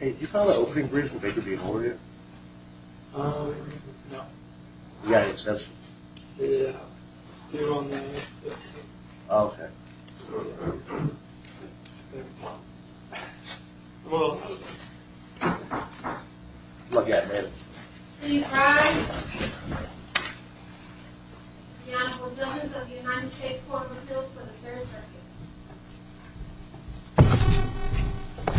Hey, do you call that opening brief with Baker being over here? Um, no. You got an exception? Yeah, it's still on there. Look at it, man. Please rise. The Honorable Billions of the United States Court of Appeals for the Third Circuit.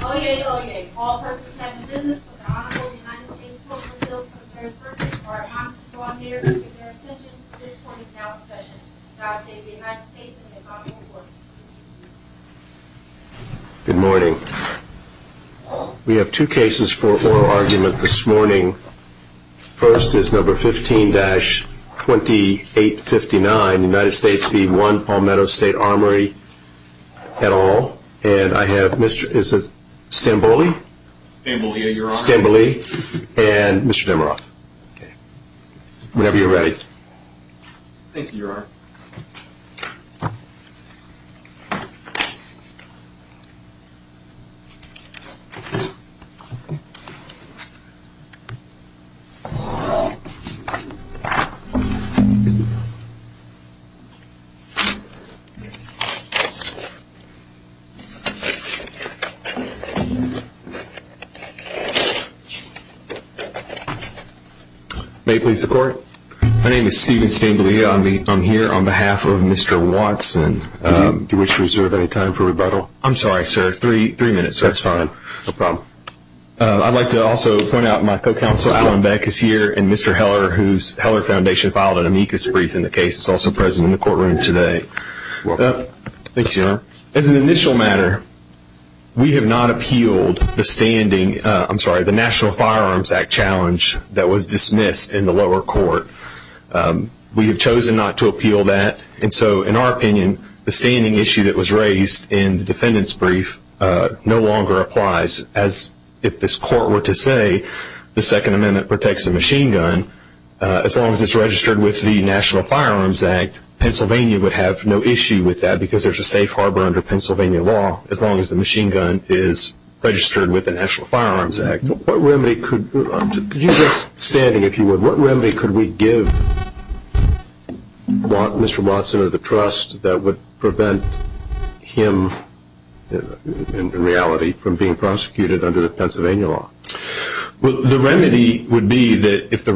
Oyez, oyez, all persons having business with the Honorable United States Court of Appeals for the Third Circuit are admonished to draw near to their extension. This point is now in session. God save the United States and His Honorable Court. Good morning. We have two cases for oral argument this morning. First is number 15-2859, United States v. One Palmetto State Armory et al. And I have Mr. Stamboli. Stamboli, Your Honor. Stamboli and Mr. Demeroff. Whenever you're ready. Thank you, Your Honor. May it please the Court. My name is Stephen Stamboli. I'm here on behalf of Mr. Watson. Do you wish to reserve any time for rebuttal? I'm sorry, sir. Three minutes. That's fine. No problem. I'd like to also point out my co-counsel Allen Beck is here, and Mr. Heller, whose Heller Foundation filed an amicus brief in the case, is also present in the courtroom today. Welcome. Thank you, Your Honor. As an initial matter, we have not appealed the National Firearms Act challenge that was dismissed in the lower court. We have chosen not to appeal that. And so, in our opinion, the standing issue that was raised in the defendant's brief no longer applies. As if this Court were to say the Second Amendment protects the machine gun, as long as it's registered with the National Firearms Act, Pennsylvania would have no issue with that because there's a safe harbor under Pennsylvania law as long as the machine gun is registered with the National Firearms Act. What remedy could we give Mr. Watson of the trust that would prevent him, in reality, from being prosecuted under the Pennsylvania law? The remedy would be that if the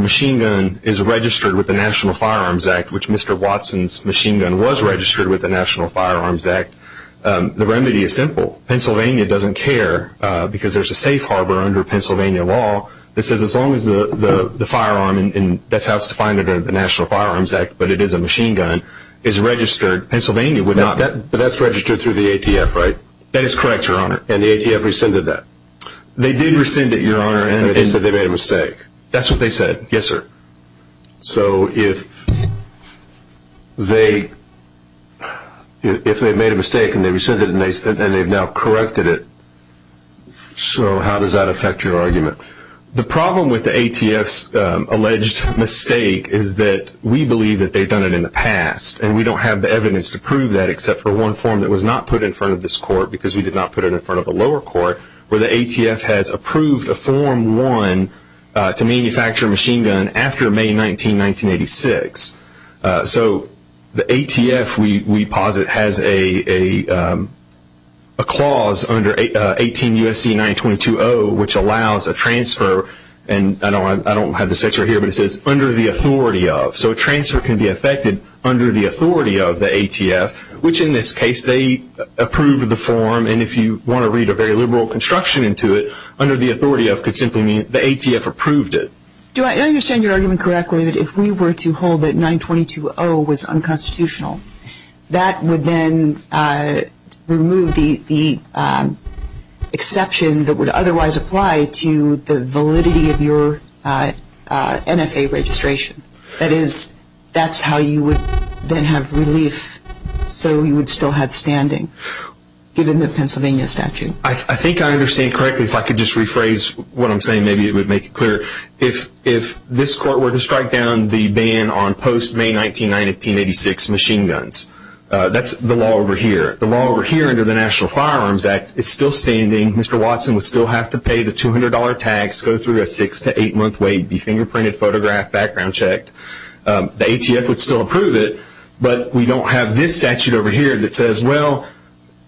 machine gun is registered with the National Firearms Act, which Mr. Watson's machine gun was registered with the National Firearms Act, the remedy is simple. Pennsylvania doesn't care because there's a safe harbor under Pennsylvania law that says as long as the firearm, and that's how it's defined under the National Firearms Act, but it is a machine gun, is registered, Pennsylvania would not. But that's registered through the ATF, right? That is correct, Your Honor. And the ATF rescinded that? They did rescind it, Your Honor. And they said they made a mistake? That's what they said. Yes, sir. So if they made a mistake and they rescinded it and they've now corrected it, so how does that affect your argument? The problem with the ATF's alleged mistake is that we believe that they've done it in the past, and we don't have the evidence to prove that except for one form that was not put in front of this court because we did not put it in front of the lower court, where the ATF has approved a Form 1 to manufacture a machine gun after May 19, 1986. So the ATF, we posit, has a clause under 18 U.S.C. 922.0, which allows a transfer, and I don't have the section here, but it says under the authority of. So a transfer can be effected under the authority of the ATF, which in this case they approved the form, and if you want to read a very liberal construction into it, under the authority of could simply mean the ATF approved it. Do I understand your argument correctly that if we were to hold that 922.0 was unconstitutional, that would then remove the exception that would otherwise apply to the validity of your NFA registration? That is, that's how you would then have relief so you would still have standing, given the Pennsylvania statute? I think I understand correctly. If I could just rephrase what I'm saying, maybe it would make it clearer. If this court were to strike down the ban on post-May 19, 1986 machine guns, that's the law over here. The law over here under the National Firearms Act is still standing. Mr. Watson would still have to pay the $200 tax, go through a six- to eight-month wait, be fingerprinted, photographed, background checked. The ATF would still approve it, but we don't have this statute over here that says, well,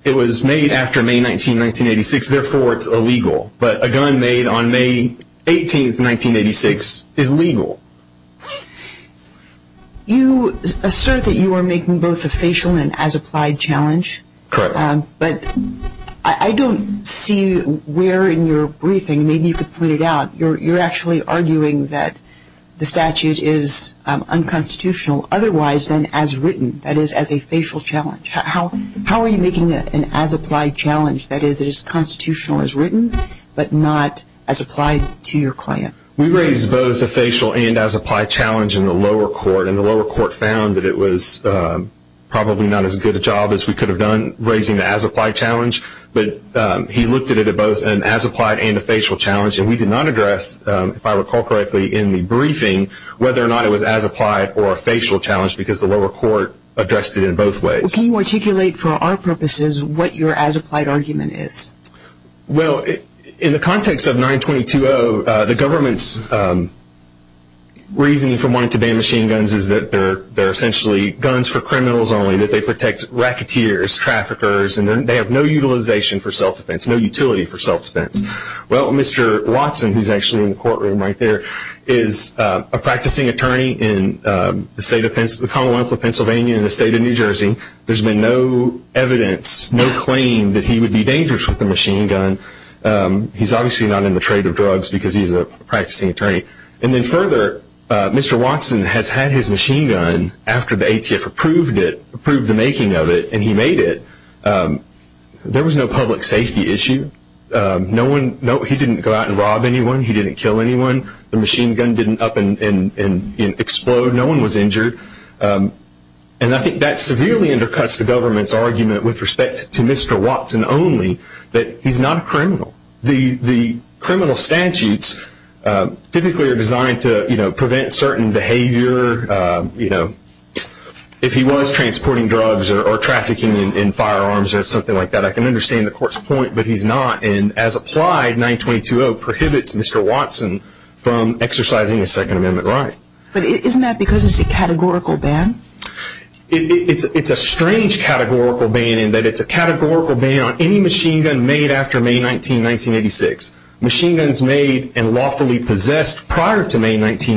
it was made after May 19, 1986, therefore it's illegal. But a gun made on May 18, 1986 is legal. You assert that you are making both a facial and as-applied challenge. Correct. But I don't see where in your briefing, maybe you could point it out, you're actually arguing that the statute is unconstitutional otherwise than as written, that is, as a facial challenge. How are you making it an as-applied challenge, that is, it is constitutional as written, but not as applied to your client? We raised both a facial and as-applied challenge in the lower court, and the lower court found that it was probably not as good a job as we could have done raising the as-applied challenge. But he looked at it both as an as-applied and a facial challenge, and we did not address, if I recall correctly, in the briefing whether or not it was as-applied or a facial challenge because the lower court addressed it in both ways. So can you articulate for our purposes what your as-applied argument is? Well, in the context of 922-0, the government's reasoning for wanting to ban machine guns is that they're essentially guns for criminals only, that they protect racketeers, traffickers, and they have no utilization for self-defense, no utility for self-defense. Well, Mr. Watson, who is actually in the courtroom right there, is a practicing attorney in the Commonwealth of Pennsylvania in the state of New Jersey. There's been no evidence, no claim that he would be dangerous with a machine gun. He's obviously not in the trade of drugs because he's a practicing attorney. And then further, Mr. Watson has had his machine gun after the ATF approved the making of it, and he made it. There was no public safety issue. He didn't go out and rob anyone. He didn't kill anyone. The machine gun didn't up and explode. No one was injured. And I think that severely undercuts the government's argument with respect to Mr. Watson only, that he's not a criminal. The criminal statutes typically are designed to prevent certain behavior. If he was transporting drugs or trafficking in firearms or something like that, I can understand the court's point, but he's not. And as applied, 922-0 prohibits Mr. Watson from exercising a Second Amendment right. But isn't that because it's a categorical ban? It's a strange categorical ban in that it's a categorical ban on any machine gun made after May 19, 1986. Machine guns made and lawfully possessed prior to May 19,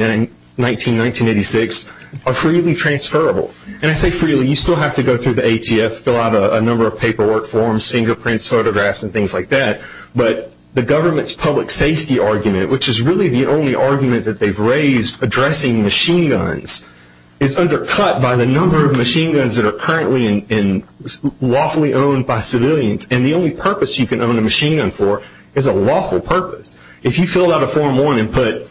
1986 are freely transferable. And I say freely. You still have to go through the ATF, fill out a number of paperwork forms, fingerprints, photographs, and things like that. But the government's public safety argument, which is really the only argument that they've raised addressing machine guns, is undercut by the number of machine guns that are currently lawfully owned by civilians. And the only purpose you can own a machine gun for is a lawful purpose. If you fill out a Form 1 and put,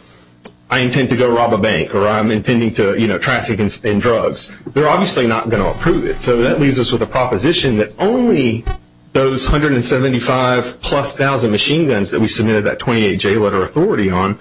I intend to go rob a bank or I'm intending to traffic in drugs, they're obviously not going to approve it. So that leaves us with a proposition that only those 175 plus thousand machine guns that we submitted that 28-J letter of authority on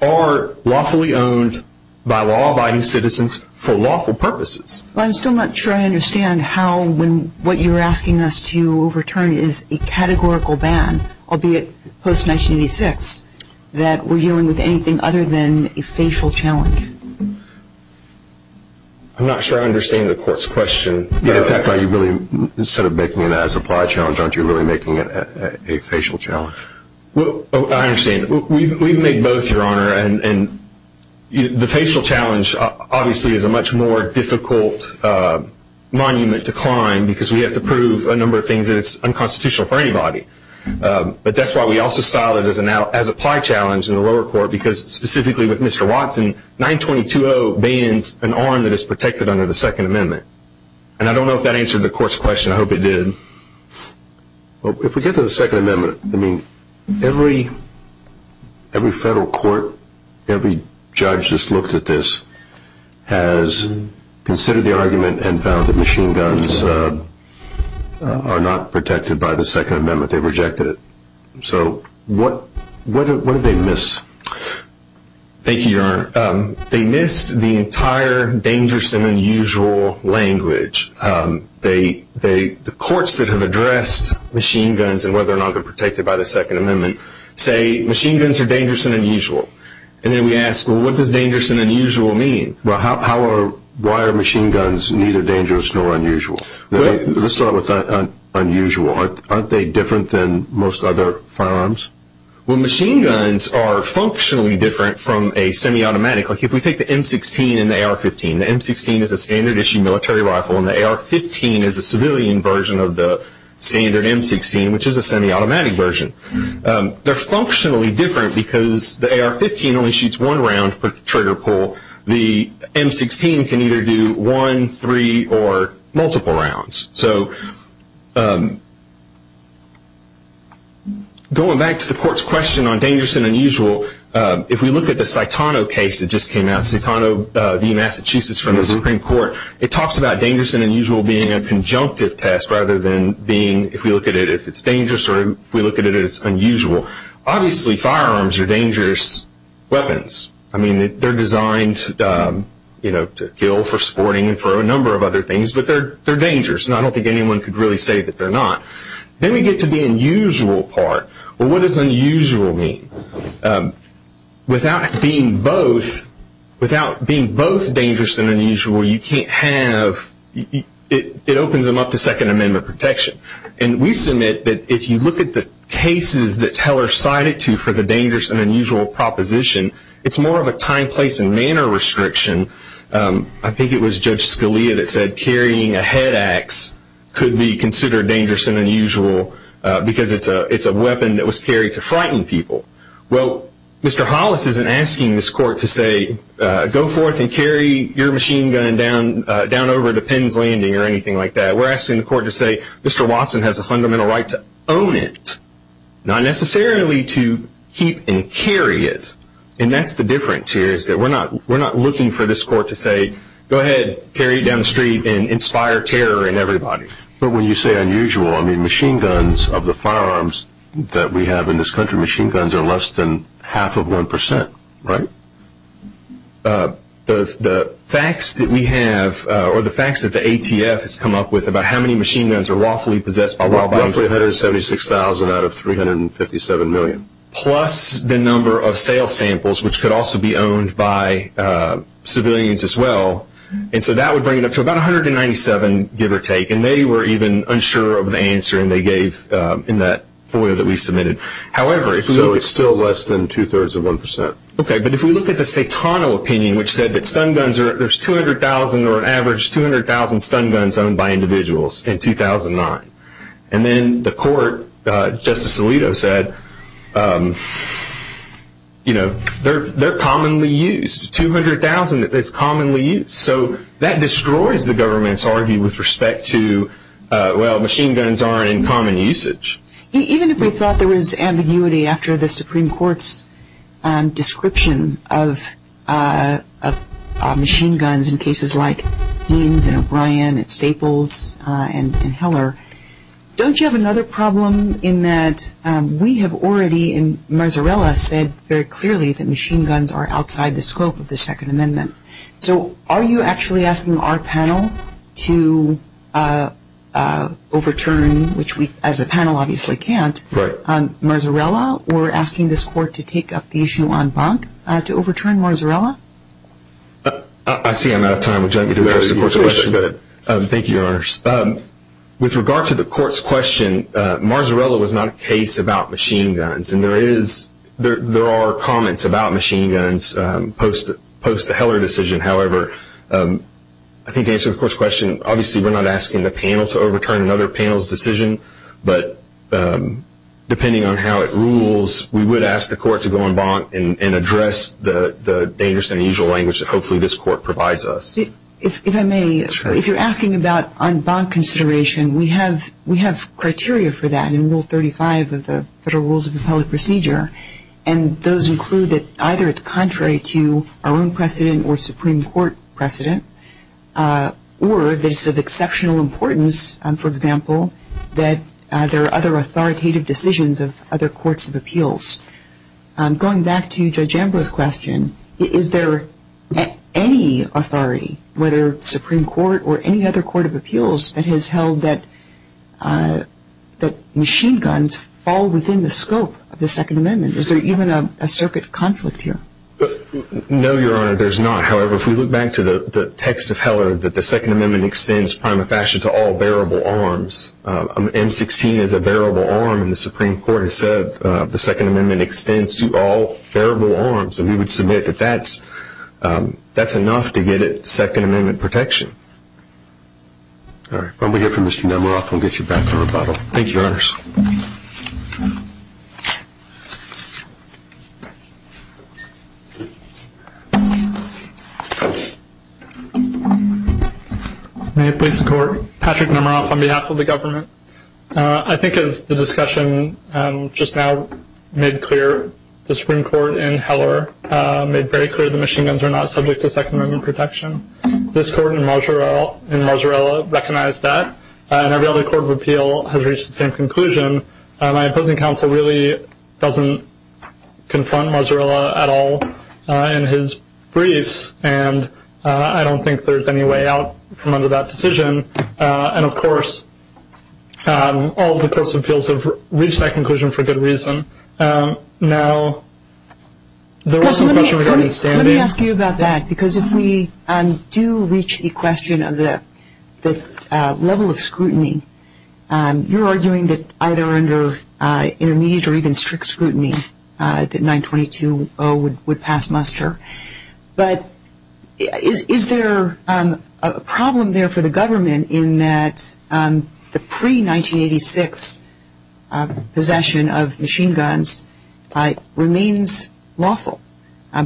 are lawfully owned by law-abiding citizens for lawful purposes. I'm still not sure I understand how when what you're asking us to overturn is a categorical ban, albeit post-1986, that we're dealing with anything other than a facial challenge. I'm not sure I understand the court's question. In fact, instead of making it an as-applied challenge, aren't you really making it a facial challenge? I understand. We've made both, Your Honor. And the facial challenge obviously is a much more difficult monument to climb because we have to prove a number of things and it's unconstitutional for anybody. But that's why we also style it as an as-applied challenge in the lower court because specifically with Mr. Watson, 922-0 bans an arm that is protected under the Second Amendment. And I don't know if that answered the court's question. I hope it did. Well, if we get to the Second Amendment, I mean, every federal court, every judge that's looked at this has considered the argument and found that machine guns are not protected by the Second Amendment. They rejected it. So what did they miss? Thank you, Your Honor. They missed the entire dangerous and unusual language. The courts that have addressed machine guns and whether or not they're protected by the Second Amendment say machine guns are dangerous and unusual. And then we ask, well, what does dangerous and unusual mean? Well, why are machine guns neither dangerous nor unusual? Let's start with unusual. Aren't they different than most other firearms? Well, machine guns are functionally different from a semi-automatic. Like if we take the M16 and the AR-15, the M16 is a standard-issue military rifle and the AR-15 is a civilian version of the standard M16, which is a semi-automatic version. They're functionally different because the AR-15 only shoots one round per trigger pull. The M16 can either do one, three, or multiple rounds. So going back to the court's question on dangerous and unusual, if we look at the Saitano case that just came out, Saitano v. Massachusetts from the Supreme Court, it talks about dangerous and unusual being a conjunctive test rather than being, if we look at it, if it's dangerous or if we look at it as unusual. Obviously, firearms are dangerous weapons. I mean, they're designed to kill for sporting and for a number of other things, but they're dangerous, and I don't think anyone could really say that they're not. Then we get to the unusual part. Well, what does unusual mean? Without being both dangerous and unusual, it opens them up to Second Amendment protection. And we submit that if you look at the cases that Teller cited to for the dangerous and unusual proposition, it's more of a time, place, and manner restriction. I think it was Judge Scalia that said carrying a head axe could be considered dangerous and unusual because it's a weapon that was carried to frighten people. Well, Mr. Hollis isn't asking this court to say, go forth and carry your machine gun down over to Penn's Landing or anything like that. We're asking the court to say, Mr. Watson has a fundamental right to own it, not necessarily to keep and carry it. And that's the difference here is that we're not looking for this court to say, go ahead, carry it down the street and inspire terror in everybody. But when you say unusual, I mean machine guns of the firearms that we have in this country, machine guns are less than half of one percent, right? The facts that we have or the facts that the ATF has come up with Roughly 176,000 out of 357 million. Plus the number of sales samples, which could also be owned by civilians as well. And so that would bring it up to about 197, give or take. And they were even unsure of the answer, and they gave in that FOIA that we submitted. So it's still less than two-thirds of one percent. Okay, but if we look at the Saitano opinion, which said that stun guns are, there's 200,000 or an average 200,000 stun guns owned by individuals in 2009. And then the court, Justice Alito said, you know, they're commonly used. 200,000 is commonly used. So that destroys the government's argument with respect to, well, machine guns are in common usage. Even if we thought there was ambiguity after the Supreme Court's description of machine guns in cases like Haines and O'Brien and Staples and Heller, don't you have another problem in that we have already, and Marzarella said very clearly, that machine guns are outside the scope of the Second Amendment. So are you actually asking our panel to overturn, which we as a panel obviously can't, Marzarella, or asking this court to take up the issue on Bonk to overturn Marzarella? I see I'm out of time. Would you like me to address the court's question? Go ahead. Thank you, Your Honors. With regard to the court's question, Marzarella was not a case about machine guns. And there are comments about machine guns post the Heller decision. However, I think to answer the court's question, obviously we're not asking the panel to overturn another panel's decision. But depending on how it rules, we would ask the court to go on Bonk and address the dangerous and unusual language that hopefully this court provides us. If I may, if you're asking about on Bonk consideration, we have criteria for that in Rule 35 of the Federal Rules of Appellate Procedure. And those include that either it's contrary to our own precedent or Supreme Court precedent, or that it's of exceptional importance, for example, that there are other authoritative decisions of other courts of appeals. Going back to Judge Ambrose's question, is there any authority, whether Supreme Court or any other court of appeals, that has held that machine guns fall within the scope of the Second Amendment? Is there even a circuit conflict here? No, Your Honor, there's not. However, if we look back to the text of Heller, that the Second Amendment extends prima facie to all bearable arms. M16 is a bearable arm, and the Supreme Court has said the Second Amendment extends to all bearable arms. And we would submit that that's enough to get at Second Amendment protection. All right. Why don't we hear from Mr. Nemeroff, and we'll get you back to rebuttal. Thank you, Your Honors. May it please the Court. Patrick Nemeroff on behalf of the government. I think as the discussion just now made clear, the Supreme Court in Heller made very clear the machine guns are not subject to Second Amendment protection. This Court in Mozzarella recognized that, and every other court of appeal has reached the same conclusion. My opposing counsel really doesn't confront Mozzarella at all in his briefs, and I don't think there's any way out from under that decision. And, of course, all the courts of appeals have reached that conclusion for good reason. Now, there was some question regarding standing. Let me ask you about that, because if we do reach the question of the level of scrutiny, you're arguing that either under intermediate or even strict scrutiny, that 922-0 would pass muster. But is there a problem there for the government in that the pre-1986 possession of machine guns remains lawful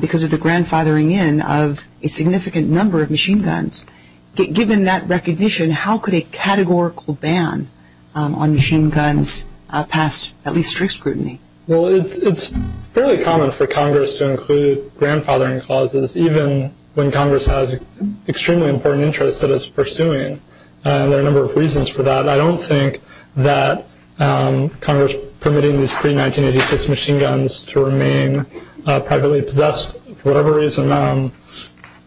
because of the grandfathering in of a significant number of machine guns? Given that recognition, how could a categorical ban on machine guns pass at least strict scrutiny? Well, it's fairly common for Congress to include grandfathering clauses, even when Congress has extremely important interests that it's pursuing, and there are a number of reasons for that. I don't think that Congress permitting these pre-1986 machine guns to remain privately possessed for whatever reason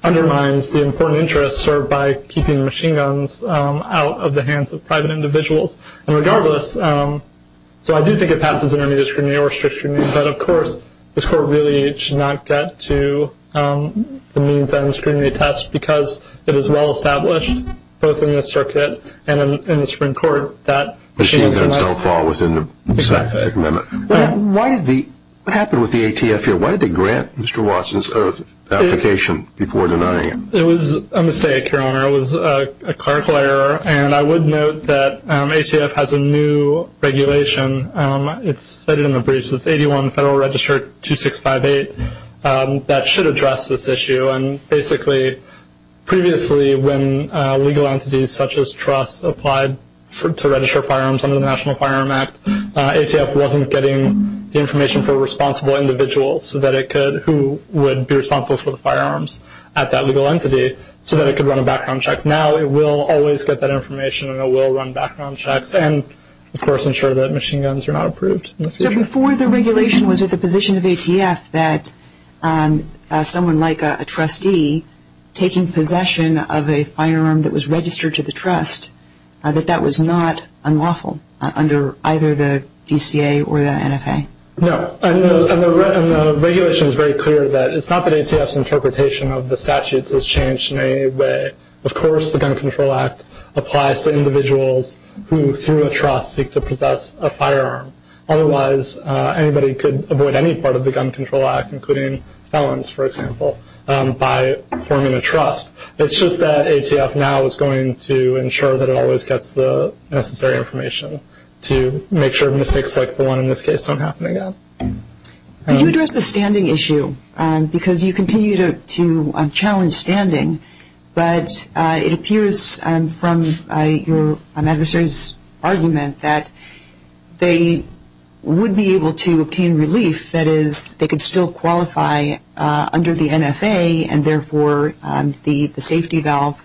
undermines the important interests served by keeping machine guns out of the hands of private individuals. And regardless, so I do think it passes intermediate scrutiny or strict scrutiny, but, of course, this Court really should not get to the means that I'm screening to test, because it is well established, both in this circuit and in the Supreme Court, that machine guns don't fall within the specific limit. Exactly. What happened with the ATF here? Why did they grant Mr. Watson's application before denying it? It was a mistake, Your Honor. It was a clerical error, and I would note that ATF has a new regulation. It's cited in the briefs. It's 81 Federal Register 2658 that should address this issue, and basically previously when legal entities such as trusts applied to register firearms under the National Firearm Act, ATF wasn't getting the information for responsible individuals who would be responsible for the firearms at that legal entity so that it could run a background check. Now it will always get that information, and it will run background checks and, of course, ensure that machine guns are not approved. So before the regulation, was it the position of ATF that someone like a trustee taking possession of a firearm that was registered to the trust, that that was not unlawful under either the DCA or the NFA? No. And the regulation is very clear that it's not that ATF's interpretation of the statutes has changed in any way. Of course the Gun Control Act applies to individuals who, through a trust, seek to possess a firearm. Otherwise, anybody could avoid any part of the Gun Control Act, including felons, for example, by forming a trust. It's just that ATF now is going to ensure that it always gets the necessary information to make sure mistakes like the one in this case don't happen again. Could you address the standing issue? Because you continue to challenge standing, but it appears from your adversary's argument that they would be able to obtain relief, that is, they could still qualify under the NFA and therefore the safety valve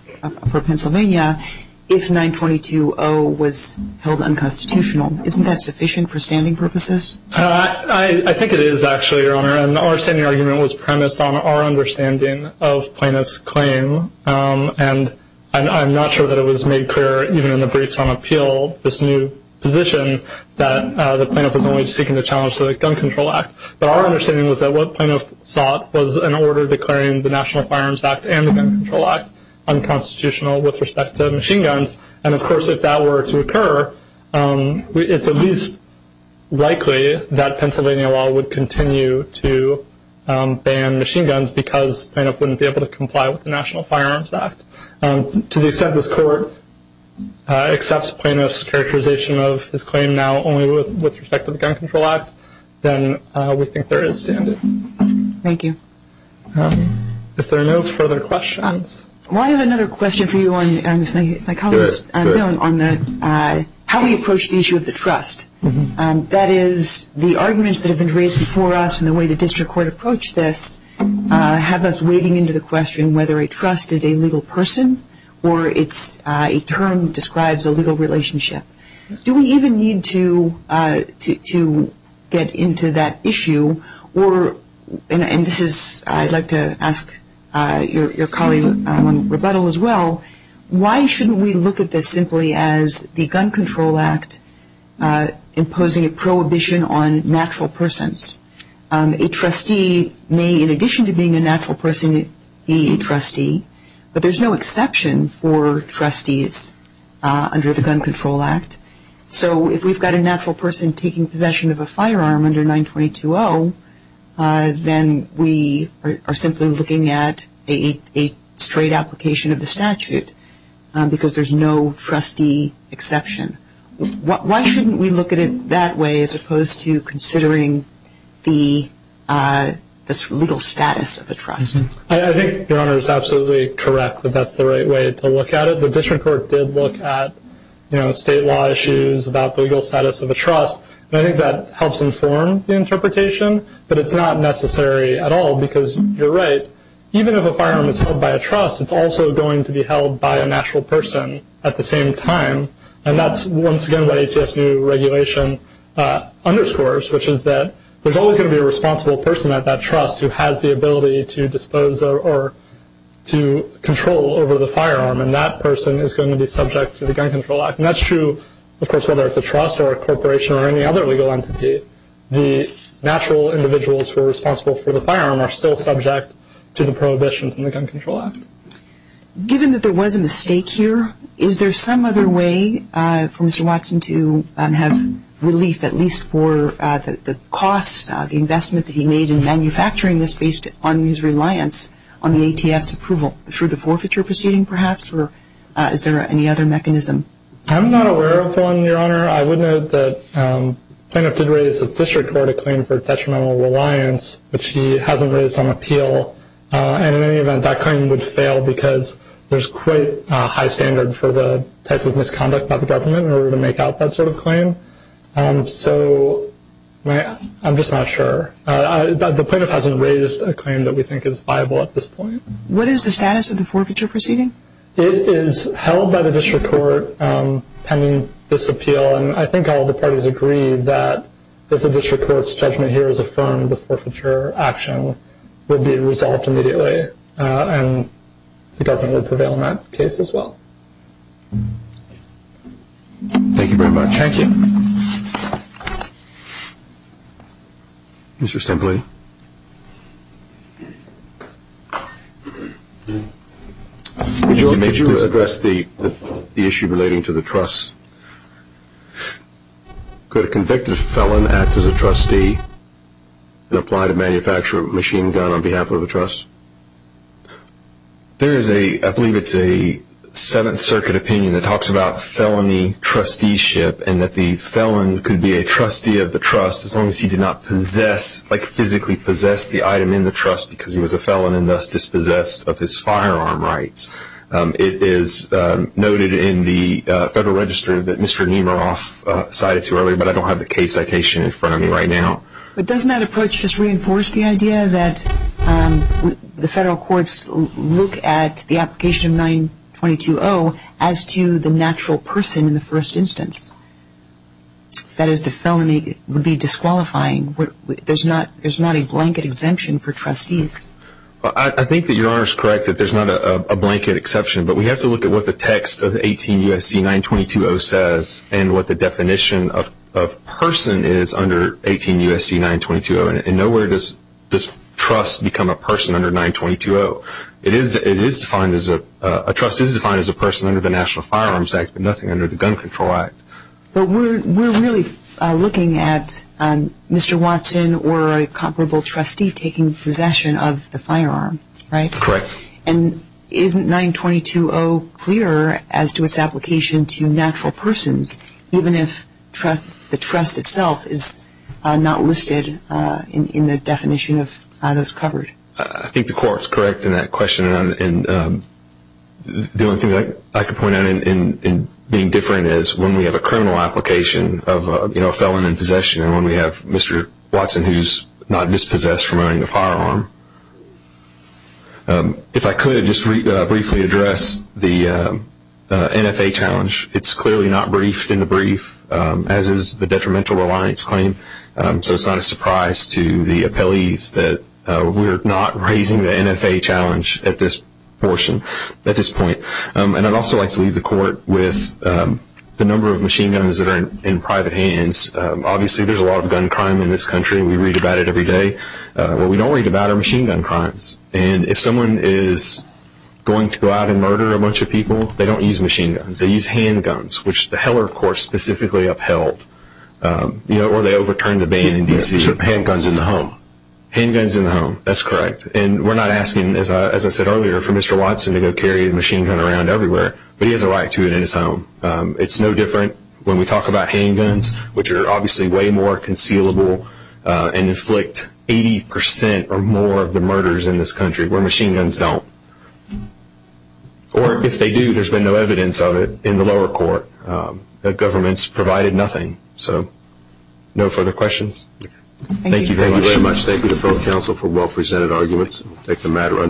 for Pennsylvania if 922-0 was held unconstitutional. Isn't that sufficient for standing purposes? I think it is, actually, Your Honor. And our standing argument was premised on our understanding of plaintiff's claim. And I'm not sure that it was made clear, even in the briefs on appeal, this new position, that the plaintiff was only seeking to challenge the Gun Control Act. But our understanding was that what plaintiff sought was an order declaring the National Firearms Act and the Gun Control Act unconstitutional with respect to machine guns. And, of course, if that were to occur, it's at least likely that Pennsylvania law would continue to ban machine guns because plaintiff wouldn't be able to comply with the National Firearms Act. To the extent this Court accepts plaintiff's characterization of his claim now only with respect to the Gun Control Act, then we think there is standing. Thank you. If there are no further questions. Well, I have another question for you, Mr. McAllister, on how we approach the issue of the trust. That is, the arguments that have been raised before us and the way the district court approached this have us wading into the question whether a trust is a legal person or it's a term that describes a legal relationship. Do we even need to get into that issue? And I'd like to ask your colleague on rebuttal as well, why shouldn't we look at this simply as the Gun Control Act imposing a prohibition on natural persons? A trustee may, in addition to being a natural person, be a trustee, but there's no exception for trustees under the Gun Control Act. So if we've got a natural person taking possession of a firearm under 922-0, then we are simply looking at a straight application of the statute because there's no trustee exception. Why shouldn't we look at it that way as opposed to considering the legal status of a trust? I think your Honor is absolutely correct that that's the right way to look at it. The district court did look at state law issues about the legal status of a trust, and I think that helps inform the interpretation, but it's not necessary at all because you're right. Even if a firearm is held by a trust, it's also going to be held by a natural person at the same time, and that's once again what ATF's new regulation underscores, which is that there's always going to be a responsible person at that trust who has the ability to dispose or to control over the firearm, and that person is going to be subject to the Gun Control Act. And that's true, of course, whether it's a trust or a corporation or any other legal entity. The natural individuals who are responsible for the firearm are still subject to the prohibitions in the Gun Control Act. Given that there was a mistake here, is there some other way for Mr. Watson to have relief, at least for the costs, the investment that he made in manufacturing this based on his reliance on the ATF's approval, through the forfeiture proceeding perhaps, or is there any other mechanism? I'm not aware of one, Your Honor. I would note that plaintiff did raise a district court claim for detrimental reliance, which he hasn't raised on appeal, and in any event, that claim would fail because there's quite a high standard for the type of misconduct by the government in order to make out that sort of claim. So I'm just not sure. The plaintiff hasn't raised a claim that we think is viable at this point. What is the status of the forfeiture proceeding? It is held by the district court pending this appeal, and I think all the parties agree that if the district court's judgment here is affirmed, the forfeiture action will be resolved immediately, and the government will prevail on that case as well. Thank you very much. Thank you. Mr. Stempley. Would you like me to address the issue relating to the trust? Yes. Could a convicted felon act as a trustee and apply to manufacture a machine gun on behalf of the trust? There is a, I believe it's a Seventh Circuit opinion that talks about felony trusteeship and that the felon could be a trustee of the trust as long as he did not possess, like physically possess the item in the trust because he was a felon and thus dispossessed of his firearm rights. It is noted in the Federal Register that Mr. Nemeroff cited to earlier, but I don't have the case citation in front of me right now. But doesn't that approach just reinforce the idea that the federal courts look at the application of 922-0 as to the natural person in the first instance? That is, the felony would be disqualifying. There's not a blanket exemption for trustees. I think that Your Honor is correct that there's not a blanket exception, but we have to look at what the text of 18 U.S.C. 922-0 says and what the definition of person is under 18 U.S.C. 922-0, and nowhere does trust become a person under 922-0. A trust is defined as a person under the National Firearms Act, but nothing under the Gun Control Act. But we're really looking at Mr. Watson or a comparable trustee taking possession of the firearm, right? Correct. And isn't 922-0 clearer as to its application to natural persons, even if the trust itself is not listed in the definition of those covered? I think the Court's correct in that question, and the only thing I can point out in being different is when we have a criminal application of a felon in possession and when we have Mr. Watson who's not dispossessed from owning a firearm. If I could, I'd just briefly address the NFA challenge. It's clearly not briefed in the brief, as is the detrimental reliance claim, so it's not a surprise to the appellees that we're not raising the NFA challenge at this portion, at this point. And I'd also like to leave the Court with the number of machine guns that are in private hands. Obviously, there's a lot of gun crime in this country. We read about it every day. What we don't read about are machine gun crimes, and if someone is going to go out and murder a bunch of people, they don't use machine guns. They use handguns, which the Heller Court specifically upheld. Or they overturn the ban in D.C. Handguns in the home. Handguns in the home, that's correct. And we're not asking, as I said earlier, for Mr. Watson to go carry a machine gun around everywhere, but he has a right to it in his home. It's no different when we talk about handguns, which are obviously way more concealable and inflict 80% or more of the murders in this country where machine guns don't. Or if they do, there's been no evidence of it in the lower court. The government's provided nothing, so no further questions. Thank you very much. Thank you very much. Thank you to both counsel for well-presented arguments.